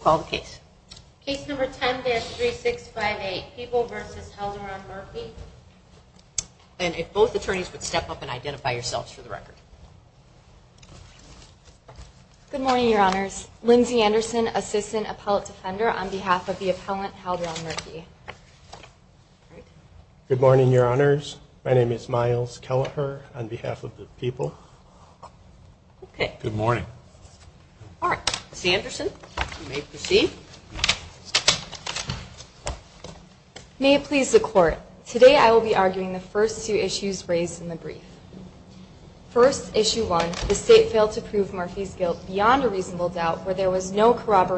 call the case. Case num People versus held around attorneys would step up a for the record. Good morn Lindsay Anderson, assista on behalf of the appellant Good morning, your honor. Kelleher on behalf of the Okay. Good morning. All r proceed. May it please th I will be arguing the fir in the brief. First issue to prove Murphy's guilt b where there was no corrob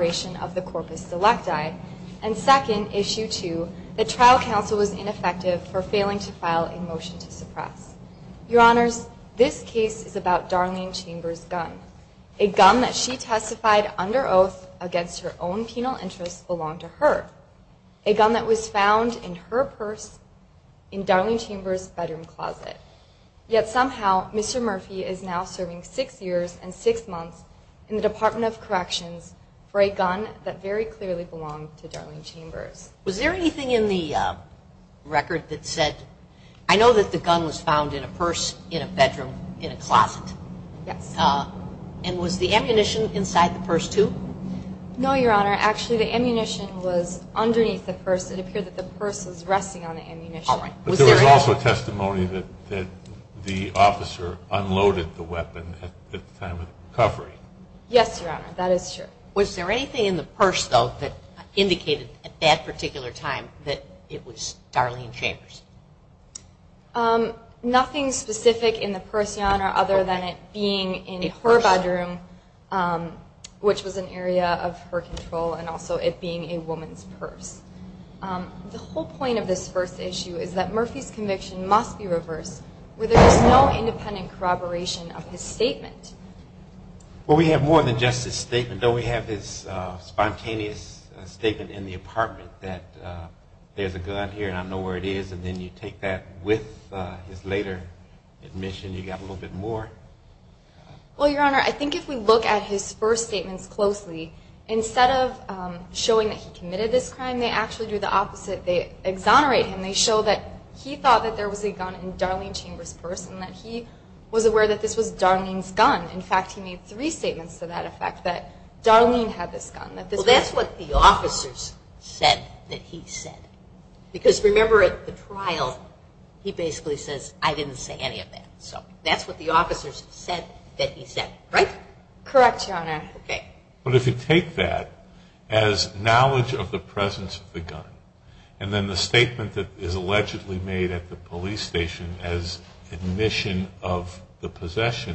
select I and second issue was ineffective for faili to suppress. Your honor's Chambers gun, a gun that oath against her own pena to her, a gun that was fo in Darling Chambers bedro somehow Mr Murphy is now and six months in the Dep for a gun that very clearl Chambers. Was there anyth that said, I know that th in a purse, in a bedroom, the ammunition inside the honor. Actually, the ammu the purse. It appeared th on the ammunition. But th that the officer unloaded time of recovery. Yes, yo Was there anything in the at that particular time t Chambers? Um, nothing spe other than it being in he an area of her control an woman's purse. Um, the wh issue is that Murphy's co reverse where there is no of his statement. Well, w statement. Don't we have statement in the apartmen there's a gun here and I then you take that with h got a little bit more. We if we look at his first s of showing that he commit do the opposite. They exon he thought that there was Chambers person that he w Darling's gun. In fact, h to that effect that Darli that's what the officers remember at the trial, he didn't say any of that. S said that he said, right. Okay. But if you take tha of the presence of the gu that is allegedly made at as admission of the posse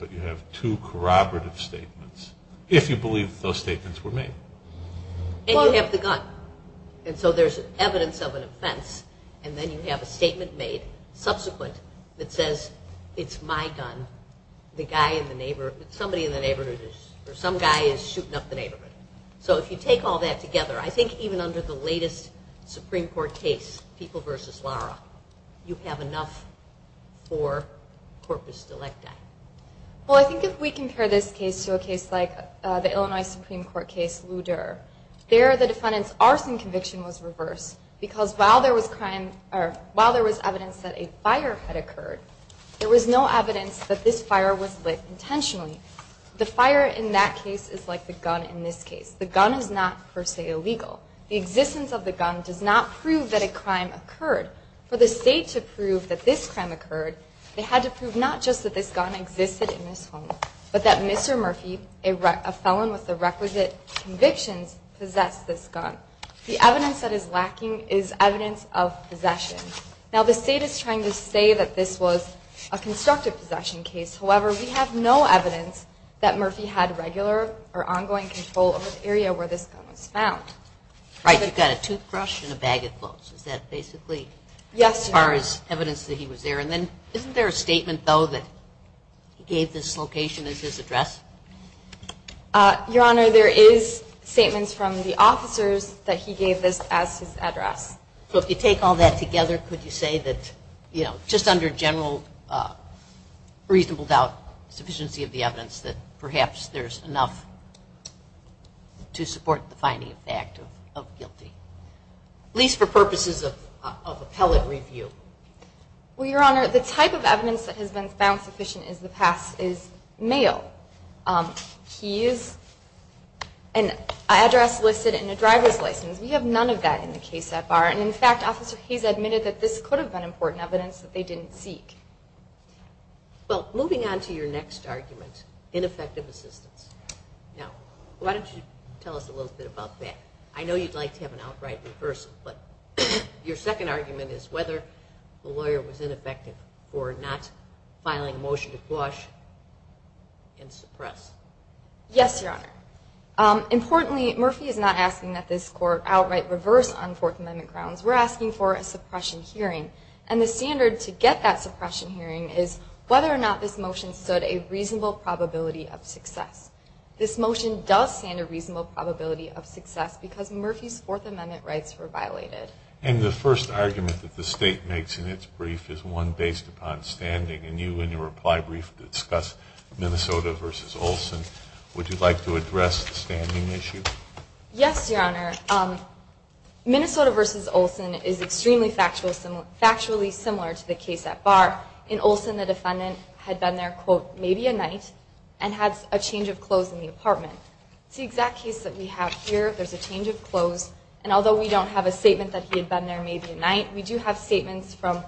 but you have to corroborat you believe those statemen the gun. And so there's e and then you have a state that says it's my gun. Th somebody in the neighborh is shooting up the neighb all that together, I think Supreme Court case, peopl versus Laura, you have en like that. Well, I think case to a case like the I case, Luder, there are th conviction was reverse be crime or while there was had occurred, there was n fire was lit intentionally case is like the gun. In not per se illegal. The e not prove that a crime oc to prove that this crime to prove not just that th home, but that Mr Murphy, requisite convictions pos evidence that is lacking Now the state is trying t a constructive possession have no evidence that Mur or ongoing control over t was found. Right. You've a bag of clothes. Is that as evidence that he was t there a statement though as his address? Uh, your from the officers that he So if you take all that t say that, you know, just doubt sufficiency of the there's enough to support of guilty, at least for p review. Well, your honor, that has been found suffi is male. Um, he is an add a driver's license. We ha the case at bar. And in f that this could have been that they didn't seek. We to your next argument, in Now, why don't you tell u that? I know you'd like t reversal, but your second the lawyer was ineffectiv motion to quash and suppr Importantly, Murphy is no outright reverse on Fourt We're asking for a suppre the standard to get that is whether or not this mo probability of success. T a reasonable probability Murphy's Fourth Amendment And the first argument th in its brief is one based you in your reply brief d versus Olson. Would you l standing issue? Yes, Your versus Olson is extremely to the case at bar in Ols had been there, quote, ma a change of clothes in th exact case that we have h of clothes. And although statement that he had bee We do have statements fro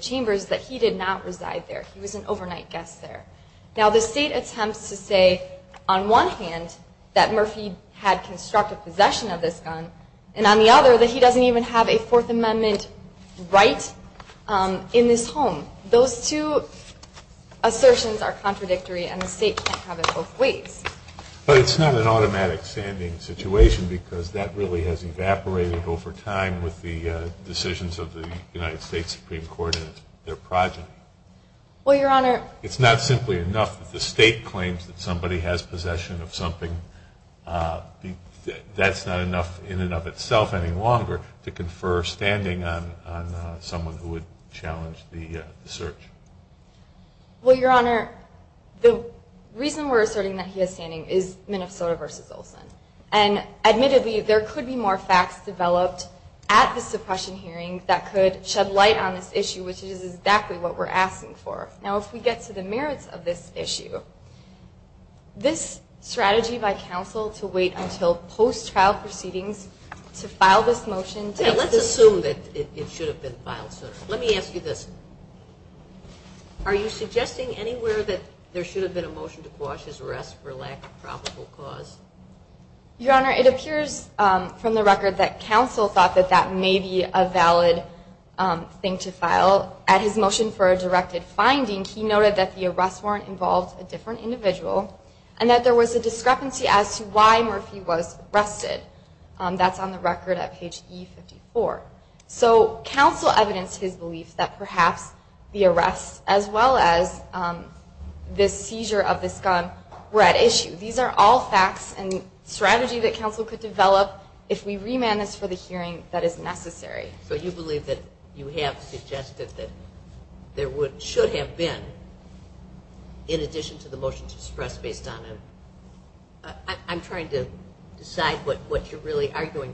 chambers that he did not an overnight guest there. to say on one hand that M possession of this gun an even have a Fourth Amendm home. Those two assertion and the state can't have not an automatic standing that really has evaporate decisions of the United S their project. Well, Your enough that the state cla possession of something. that's not enough in and to confer standing on so the search. Well, Your Ho asserting that he is stand versus Olson. And admitte more facts developed at t that could shed light on is exactly what we're ask get to the merits of this this strategy by council trial proceedings to file let's assume that it shou Let me ask you this. Are that there should have be his arrest for lack of pr it appears from the record that that may be a valid his motion for a directed that the arrest warrant i for an individual and tha as to why Murphy was arre record at page 54. So cou that perhaps the arrest a of this gun were at issue and strategy that council we remand this for the he So you believe that you h there would should have b the motions expressed bas to decide what what you'r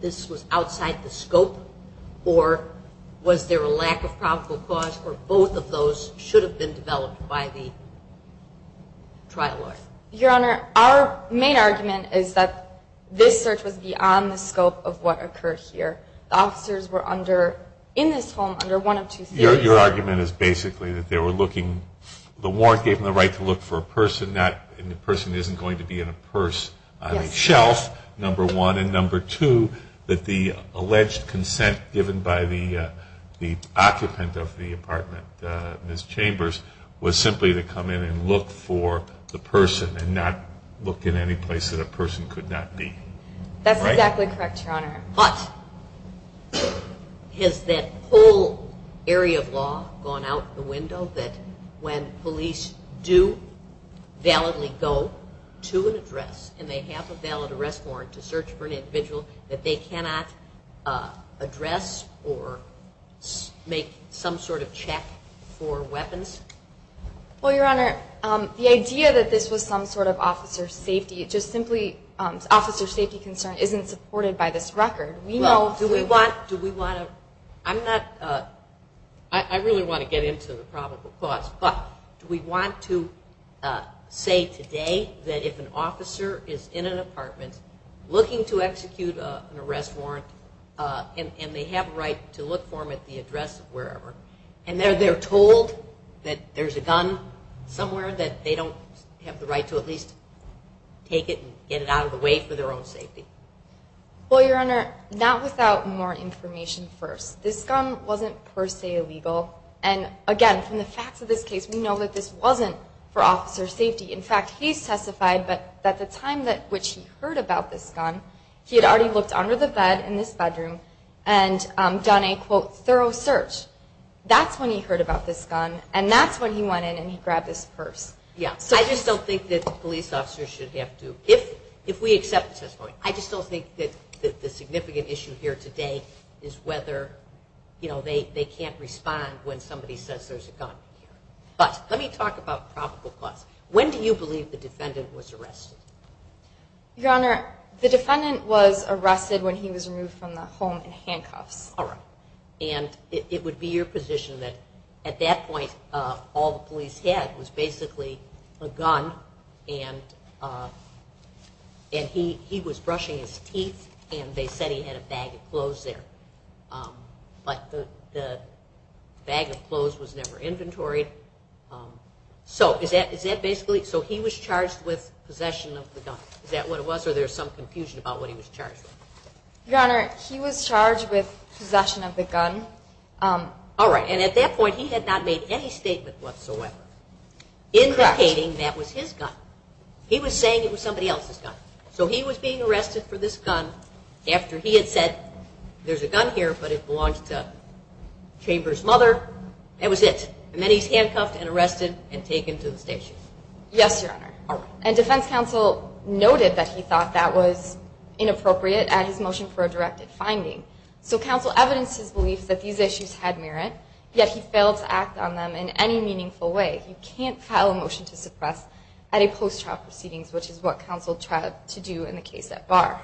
this was outside the scop lack of probable cause fo have been developed by th Our main argument is that the scope of what occurre were under in this home u argument is basically tha the warrant gave him the person, not the person is purse shelf number one an the alleged consent given of the apartment. Uh Ms Ch to come in and look for t in any place that a perso be. That's exactly correc that whole area of law go that when police do valid and they have a valid arr for an individual that th or make some sort of chec your honor. Um the idea t sort of officer safety, j safety concern isn't supp We know, do we want, do w I really want to get into But do we want to say tod is in an apartment lookin warrant and they have a r at the address of wherever told that there's a gun s have the right to at leas it out of the way for the your honor, not without m This gun wasn't per se il the facts of this case, w for officer safety. In fa but at the time that which gun, he had already looke this bedroom and done a q That's when he heard abou that's when he went in an Yeah, I just don't think should have to, if, if we I just don't think that t issue here today is wheth they can't respond when s a gun. But let me talk ab When do you believe the d Your honor, the defendant he was removed from the h All right. And it would b at that point, all the po a gun and uh and he he wa and they said he had a ba the bag of clothes was nev is that is that basically with possession of the gu it was? Or there's some c what he was charged? Your with possession of the gu at that point he had not whatsoever indicating tha was saying it was somebod he was being arrested for had said there's a gun he to Chambers mother. That he's handcuffed and arres the station. Yes. Your hon noted that he thought tha at his motion for a direc evidences belief that the Yet he failed to act on t way. You can't file a mot post trial proceedings, w to do in the case at bar.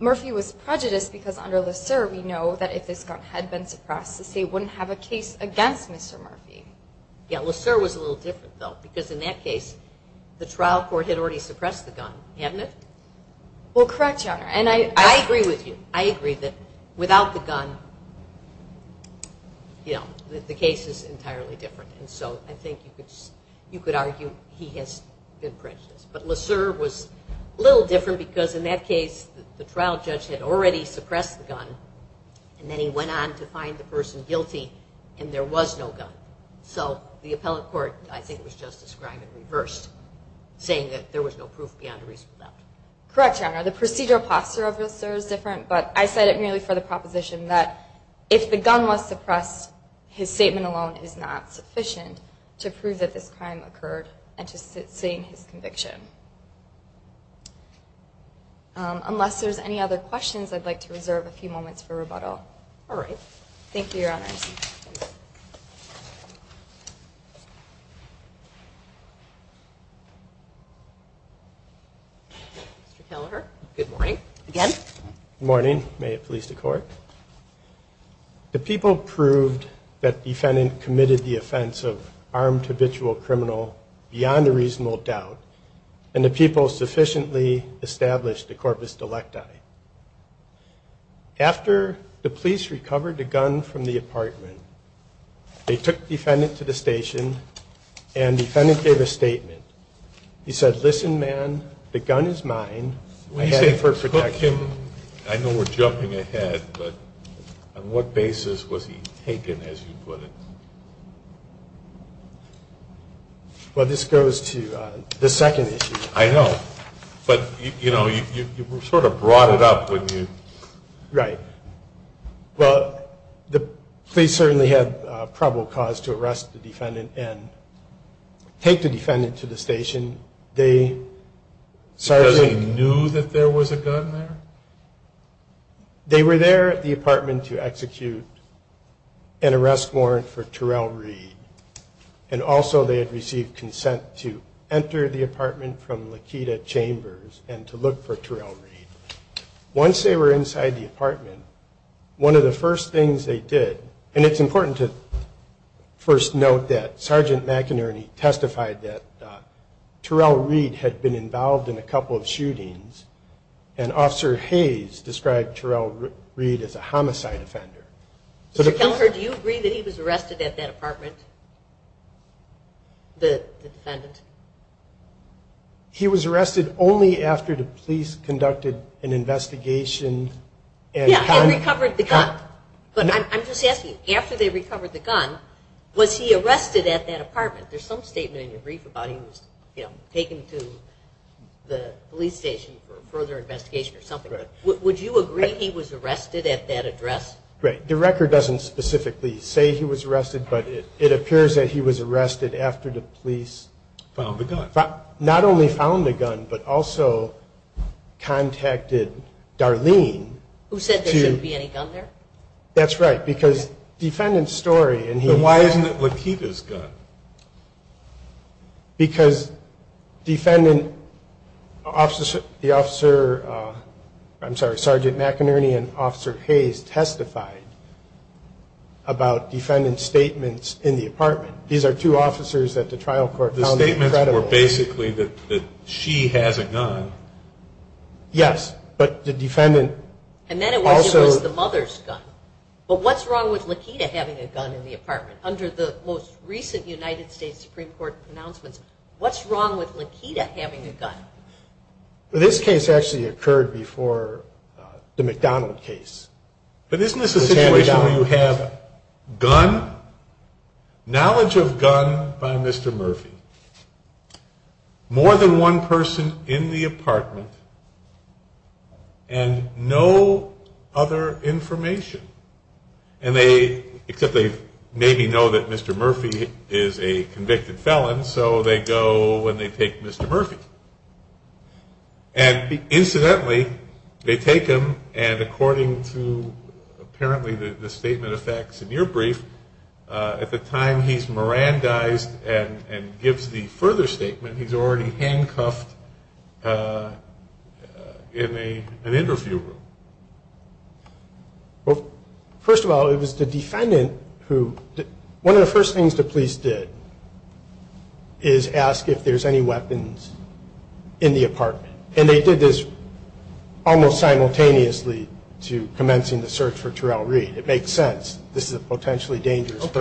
prejudice because under l if this gun had been supp have a case against Mr. M was a little different th case, the trial court had gun, haven't it? Well, co I agree with you. I agree gun, you know, the case i And so I think you could been prejudiced. But let' because in that case the suppressed the gun and th person guilty and there w the appellate court, I th and reversed saying that beyond a reasonable doubt the procedural posture of But I said it merely for if the gun was suppressed is not sufficient to prov occurred and to sit seeing Unless there's any other to reserve a few moments right. Thank you. Your hon Good morning again. Good to court. The people prov committed the offense of beyond a reasonable doubt and the people sufficient the corpus delecta. After the gun from the apartmen to the station and defend He said, listen, man, the for protection. I know we on what basis was he take Well, this goes to the se you know, you sort of brou Right. Well, the police c cause to arrest the defen to the station. They sarc was a gun there. They wer to execute an arrest warr read and also they had re enter the apartment from and to look for trail rea inside the apartment. One they did and it's importa Sergeant McInerney testifi had been involved in a co and Officer Hayes describ a homicide offender. So t he was arrested at that a defendant? He was arreste conducted an investigatio the gun. But I'm just as recovered the gun, was he apartment? There's some s about. He was taken to th further investigation or you agree he was arrested address? Right. The recor say he was arrested, but arrested after the police found the gun, but also c said there shouldn't be a right because defendant s it would keep his gun bec officer, the officer, I'm McInerney and Officer Hay statements in the apartme that the trial court, the that she has a gun. Yes, and then it was the mothe wrong with Lakita having under the most recent Uni pronouncements? What's wr having a gun? This case a the McDonald case. But is where you have gun knowled Murphy more than one pers and no other information. they maybe know that Mr M is a convicted felon. So Mr Murphy and incidentall and according to apparent in your brief, at the tim and and gives the further handcuffed uh, in a, an i of all, it was the defend one of the first things t if there's any weapons in they did this almost simu the search for trial. Rea This is a potentially dang with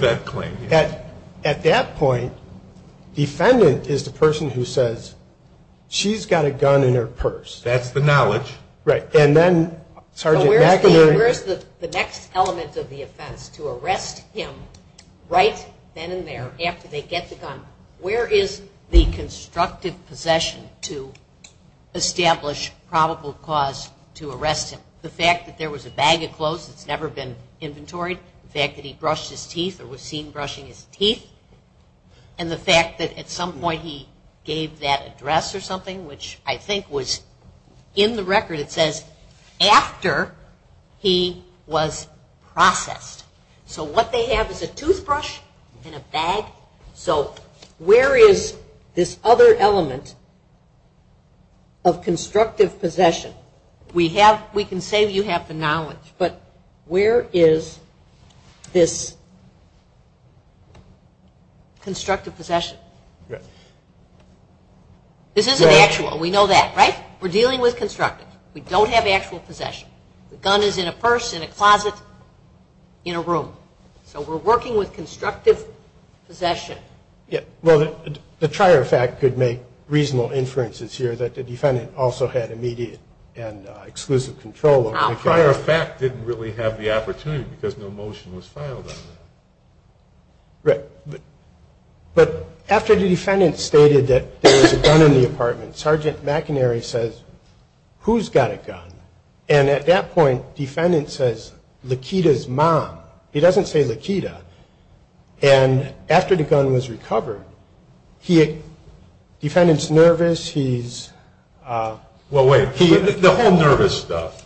that claim that at t is the person who says sh purse. That's the knowled Right. And then Sergeant element of the offense to then in there after they is the constructive posse cause to arrest him. The a bag of clothes that's n fact that he brushed his brushing his teeth and th point he gave that addres I think was in the record he was processed. So wha toothbrush in a bag. So w element of constructive p can say you have the know is this constructive poss This isn't actual. We kn dealing with constructive possession. The gun is in in a room. So we're worki possession. Yeah. Well, t make reasonable inferences also had immediate and ex prior fact didn't really because no motion was fil But after the defendant s a gun in the apartment, S who's got a gun? And at t says, Lakita's mom, he do And after the gun was rec nervous. He's uh, well, w stuff.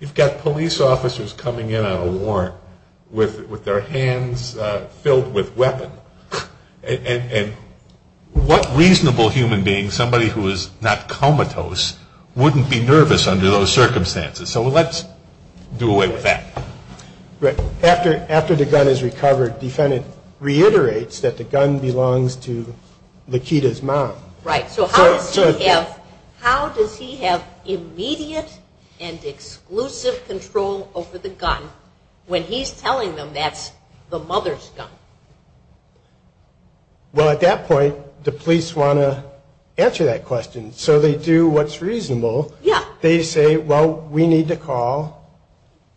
You've got police in on a warrant with their And what reasonable human is not comatose, wouldn't circumstances. So let's d after, after the gun is r reiterates that the gun b mom. Right? So how does h have immediate and exclus gun when he's telling the gun? Well, at that point, that question. So they do say, well, we need to cal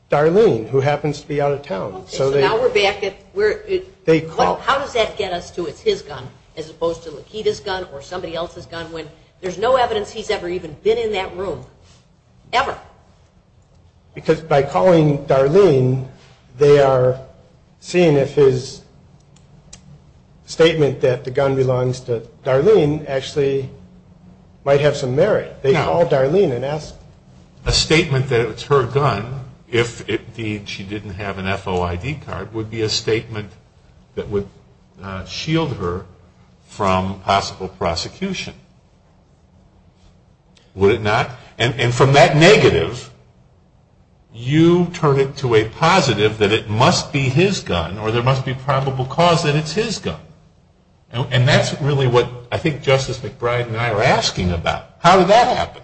to be out of town. So now call. How does that get u as opposed to Lakita's gu else's gun when there's n been in that room ever? B Darlene, they are seeing that the gun belongs to D have some merit. They cal statement that it's her g be a statement that would prosecution. Would it not negative, you turn it to be his gun or there must it's his gun. And that's Justice McBride and I are did that happen?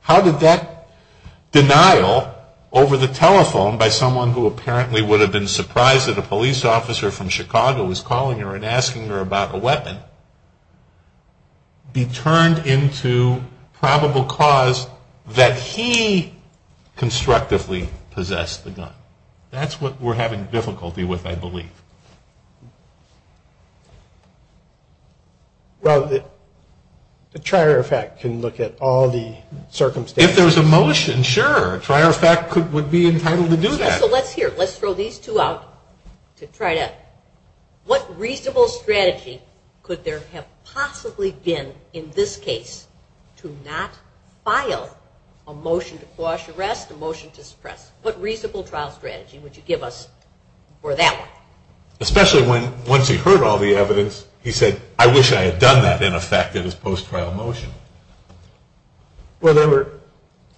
How did telephone by someone who have been surprised that Chicago was calling her a a weapon be turned into p he constructively possess what we're having difficul Well, the trier effect ca If there's a motion, sure be entitled to do that. L these two out to try to w Could there have possibly to not file a motion to q to suppress. What reasona would you give us for tha when once he heard all th I wish I had done that in trial motion? Well,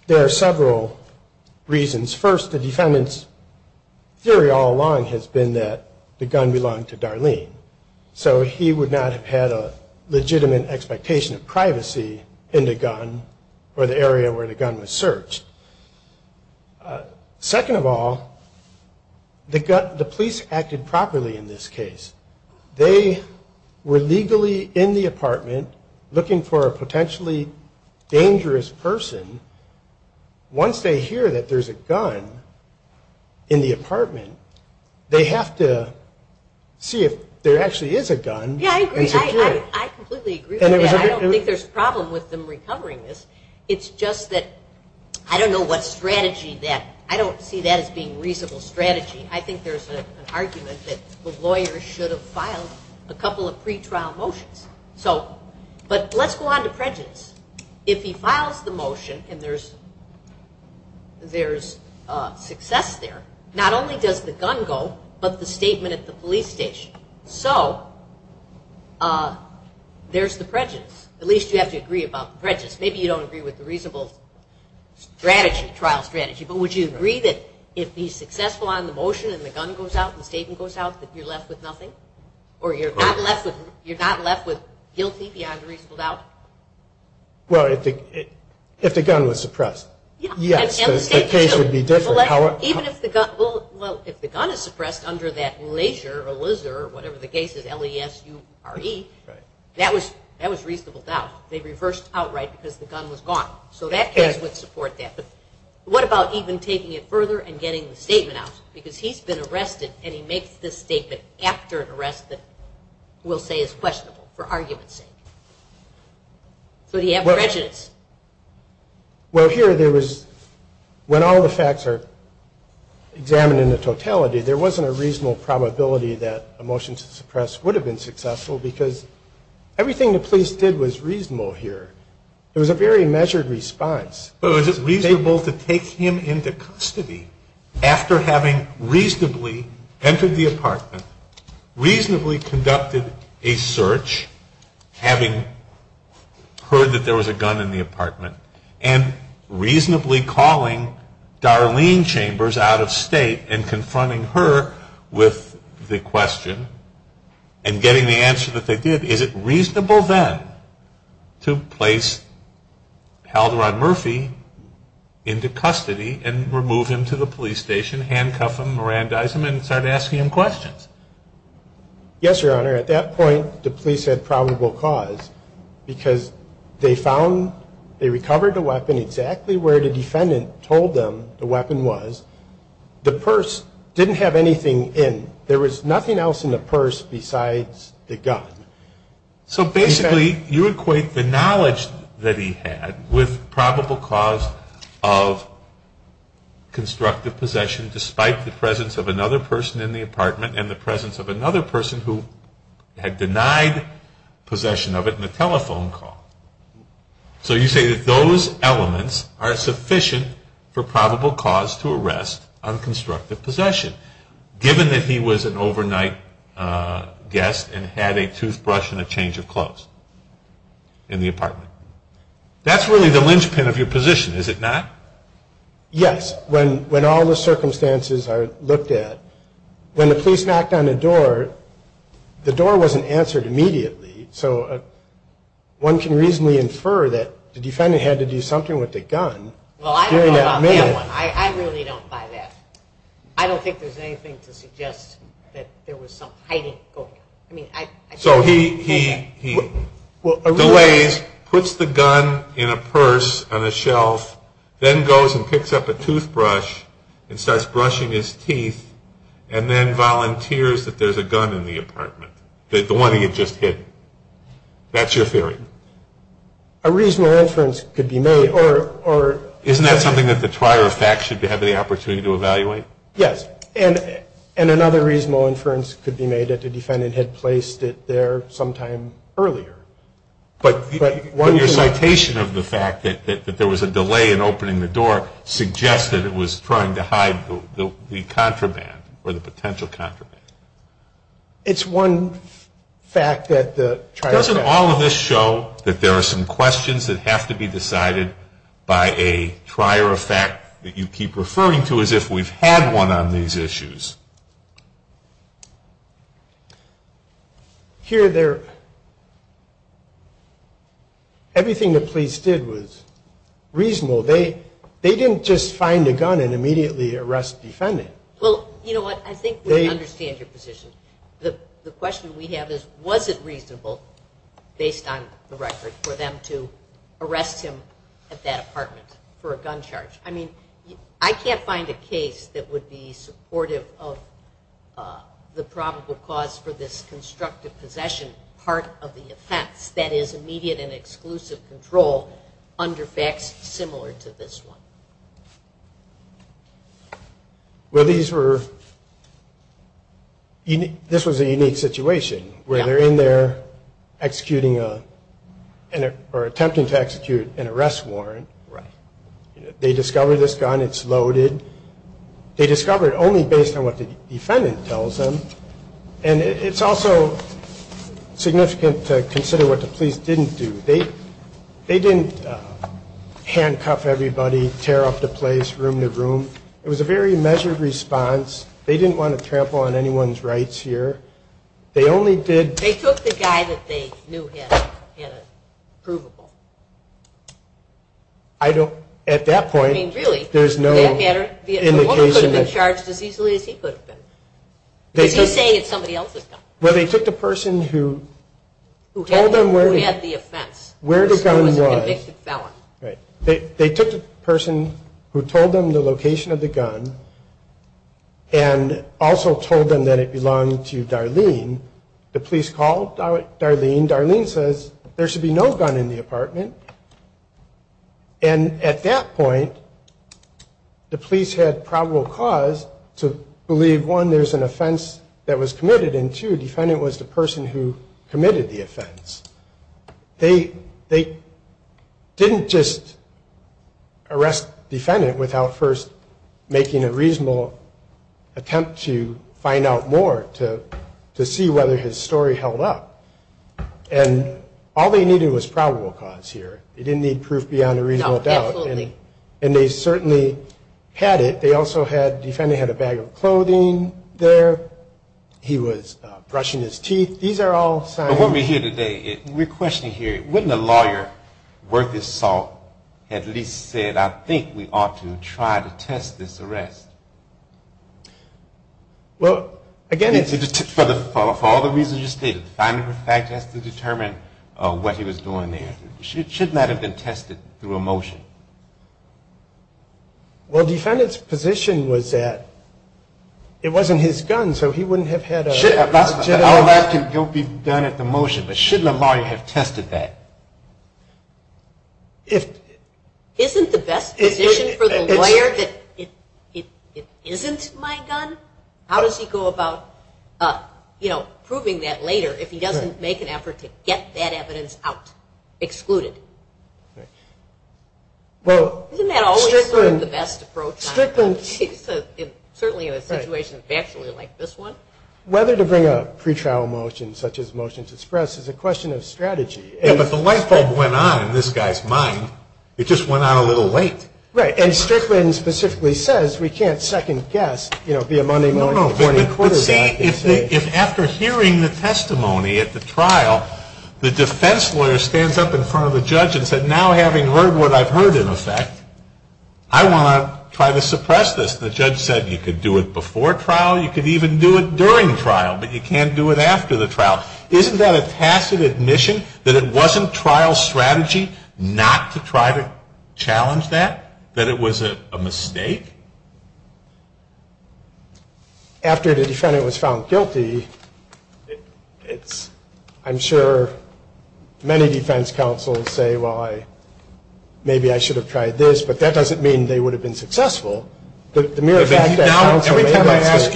there reasons. First, the defen has been that the gun bel he would not have had a l of privacy in the gun or gun was searched. Uh, se acted properly in this ca were legally in the apar potentially dangerous pe that there's a gun in the have to see if there actua I completely agree. I don with them recovering this I don't know what strateg that is being reasonable I think there's an argume should have filed a couple So, but let's go on to pr the motion and there's, t there, not only does the the police station. So, u At least you have to agre Maybe you don't agree wit strategy, but would you a be successful on the moti out, the statement goes o nothing or you're not lef left with guilty beyond r the, if the gun was suppr be different. Even if the gun is suppressed under t or whatever the case is, that was reasonable doubt outright because the gun would support that. But w further and getting the s he's been arrested and he after an arrest that we'l for argument's sake. So d Well, here there was when in the totality, there wa that a motion to suppres because everything the po here. It was a very measu to take him into custody entered the apartment, re a search, having heard th in the apartment and reas chambers out of state and the question and getting did. Is it reasonable then to place held around Murph and remove him to the pol him, Miranda's him and st questions. Yes, your hono the police had probable c found, they recovered a w the defendant told them t purse didn't have anythin else in the purse besides So basically you equate t he had with probable caus despite the presence of a apartment and the presenc who had denied possession call. So you say that tho sufficient for probable c unconstructed possession. given that he was an over a toothbrush and a change That's really the linchp Is it not? Yes. When, whe are looked at, when the p door, the door wasn't ans So one can reasonably inf had to do something with Well, I really don't buy there's anything to sugge some hiding. I mean, so h the gun in a purse on the picks up a toothbrush and his teeth and then volunte a gun in the apartment. T hit. That's your theory. a reasonable inference co that something that the t have any opportunity to e another reasonable inferen that the defendant had pl earlier. But when your ci that there was a delay in it was trying to hide the potential contraband. It' Doesn't all of this show questions that have to be fact that you keep referr had one on these issues h the police did was reason just find a gun and immed Well, you know what? I th your position. The questi reasonable based on the r arrest him at that apartm I mean, I can't find a ca supportive of uh the prob possession part of the of and exclusive control unde to this one. Well, these a unique situation where a or attempting to execu right. They discovered th They discovered only basi tells them. And it's also what the police didn't do didn't uh handcuff everyb room to room. It was a ve They didn't want to tramp here. They only did. They they knew had had a prova point, really, there's no charged as easily as he c saying it's somebody else the person who who had th the gun was right. They t told them the location of told them that it belonged called Darlene. Darlene sa no gun in the apartment. the police had probable c an offense that was commi was the person who committ they didn't just arrest d a reasonable attempt to f whether his story held up was probable cause here. beyond a reasonable doubt had it. They also had def a bag of clothing there. teeth. These are all sign it. We're questioning her worth his salt at least s to try to test this arrest it for the for all the re fact has to determine wha there should not have bee through a motion. Well, d was that it wasn't his gu had a general that can be But should the lawyer have the best position for the my gun? How does he go ab that later if he doesn't to get that evidence out. that always the best appr in a situation actually l to bring a pre trial moti express is a question of the light bulb went on in just went out a little la specifically says we can' know, be a money morning if after hearing the test the defense lawyer stands judge and said, now, havi in effect, I want to try judge said you could do i could even do it during t do it after the trial. Is admission that it wasn't to try to challenge that that it was a mistake afte found guilty, it's I'm su say, well, I maybe I should but that doesn't mean the successful. The mere fact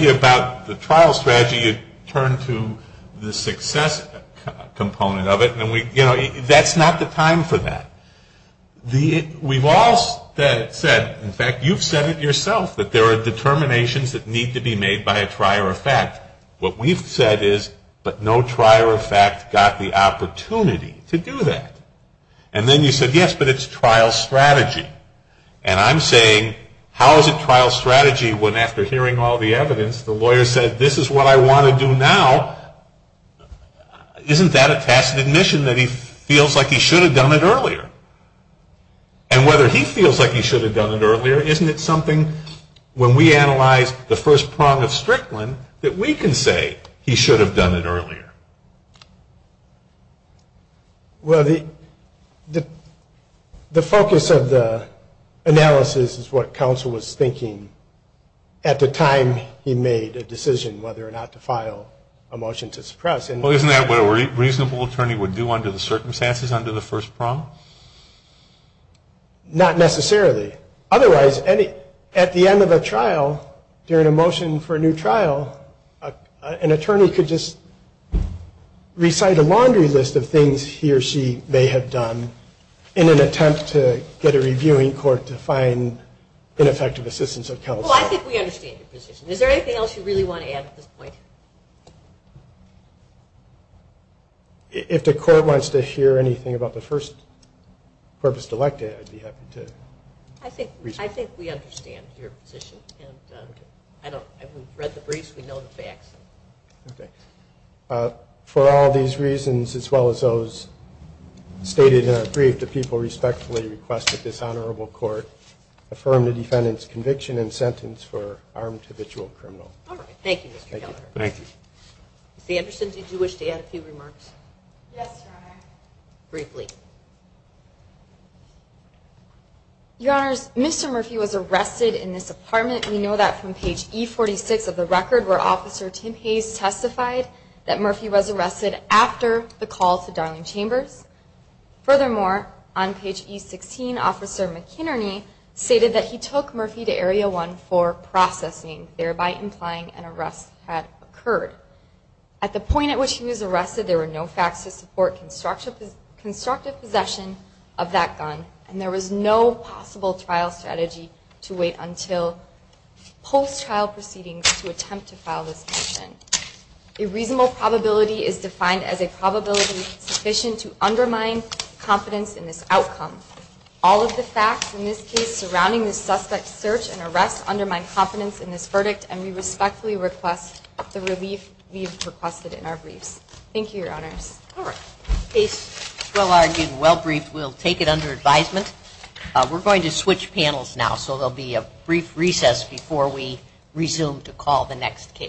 you about the trial strateg success component of it. that's not the time for t that said, in fact, you'v that there are determina made by a trier effect. W but no trier effect got t that. And then you said, strategy. And I'm saying when after hearing all th said, this is what I want now, isn't that a tacit a like he should have done he feels like he should h isn't it something when w prong of Strickland that have done it earlier? Wel the analysis is what coun the time he made a decisi to file a motion to suppr what a reasonable attorne circumstances under the f Otherwise, any at the end a motion for a new trial, just recite a laundry lis she may have done in an a court to find ineffective I think we understand you else you really want to a if the court wants to hea first purpose to like to I think we understand you I haven't read the briefs Okay. Uh, for all these r those stated in our brief request that this honorabl defendant's conviction an armed habitual criminal. Thank you. Thank you. Tha to add a few remarks? Yes Mr Murphy was arrested in know that from page 46 of Tim Hayes testified that after the call to Darling on page 16, Officer McKinne that he took Murphy to ar thereby implying an arrest point at which he was arre no facts to support constr possession of that gun. A trial strategy to wait un to attempt to file this m probability is defined as to undermine confidence i of the facts in this case suspect search and arrest in this verdict. And we r the relief we've requeste your honors. All right. A brief. We'll take it unde going to switch panels no recess before we resume t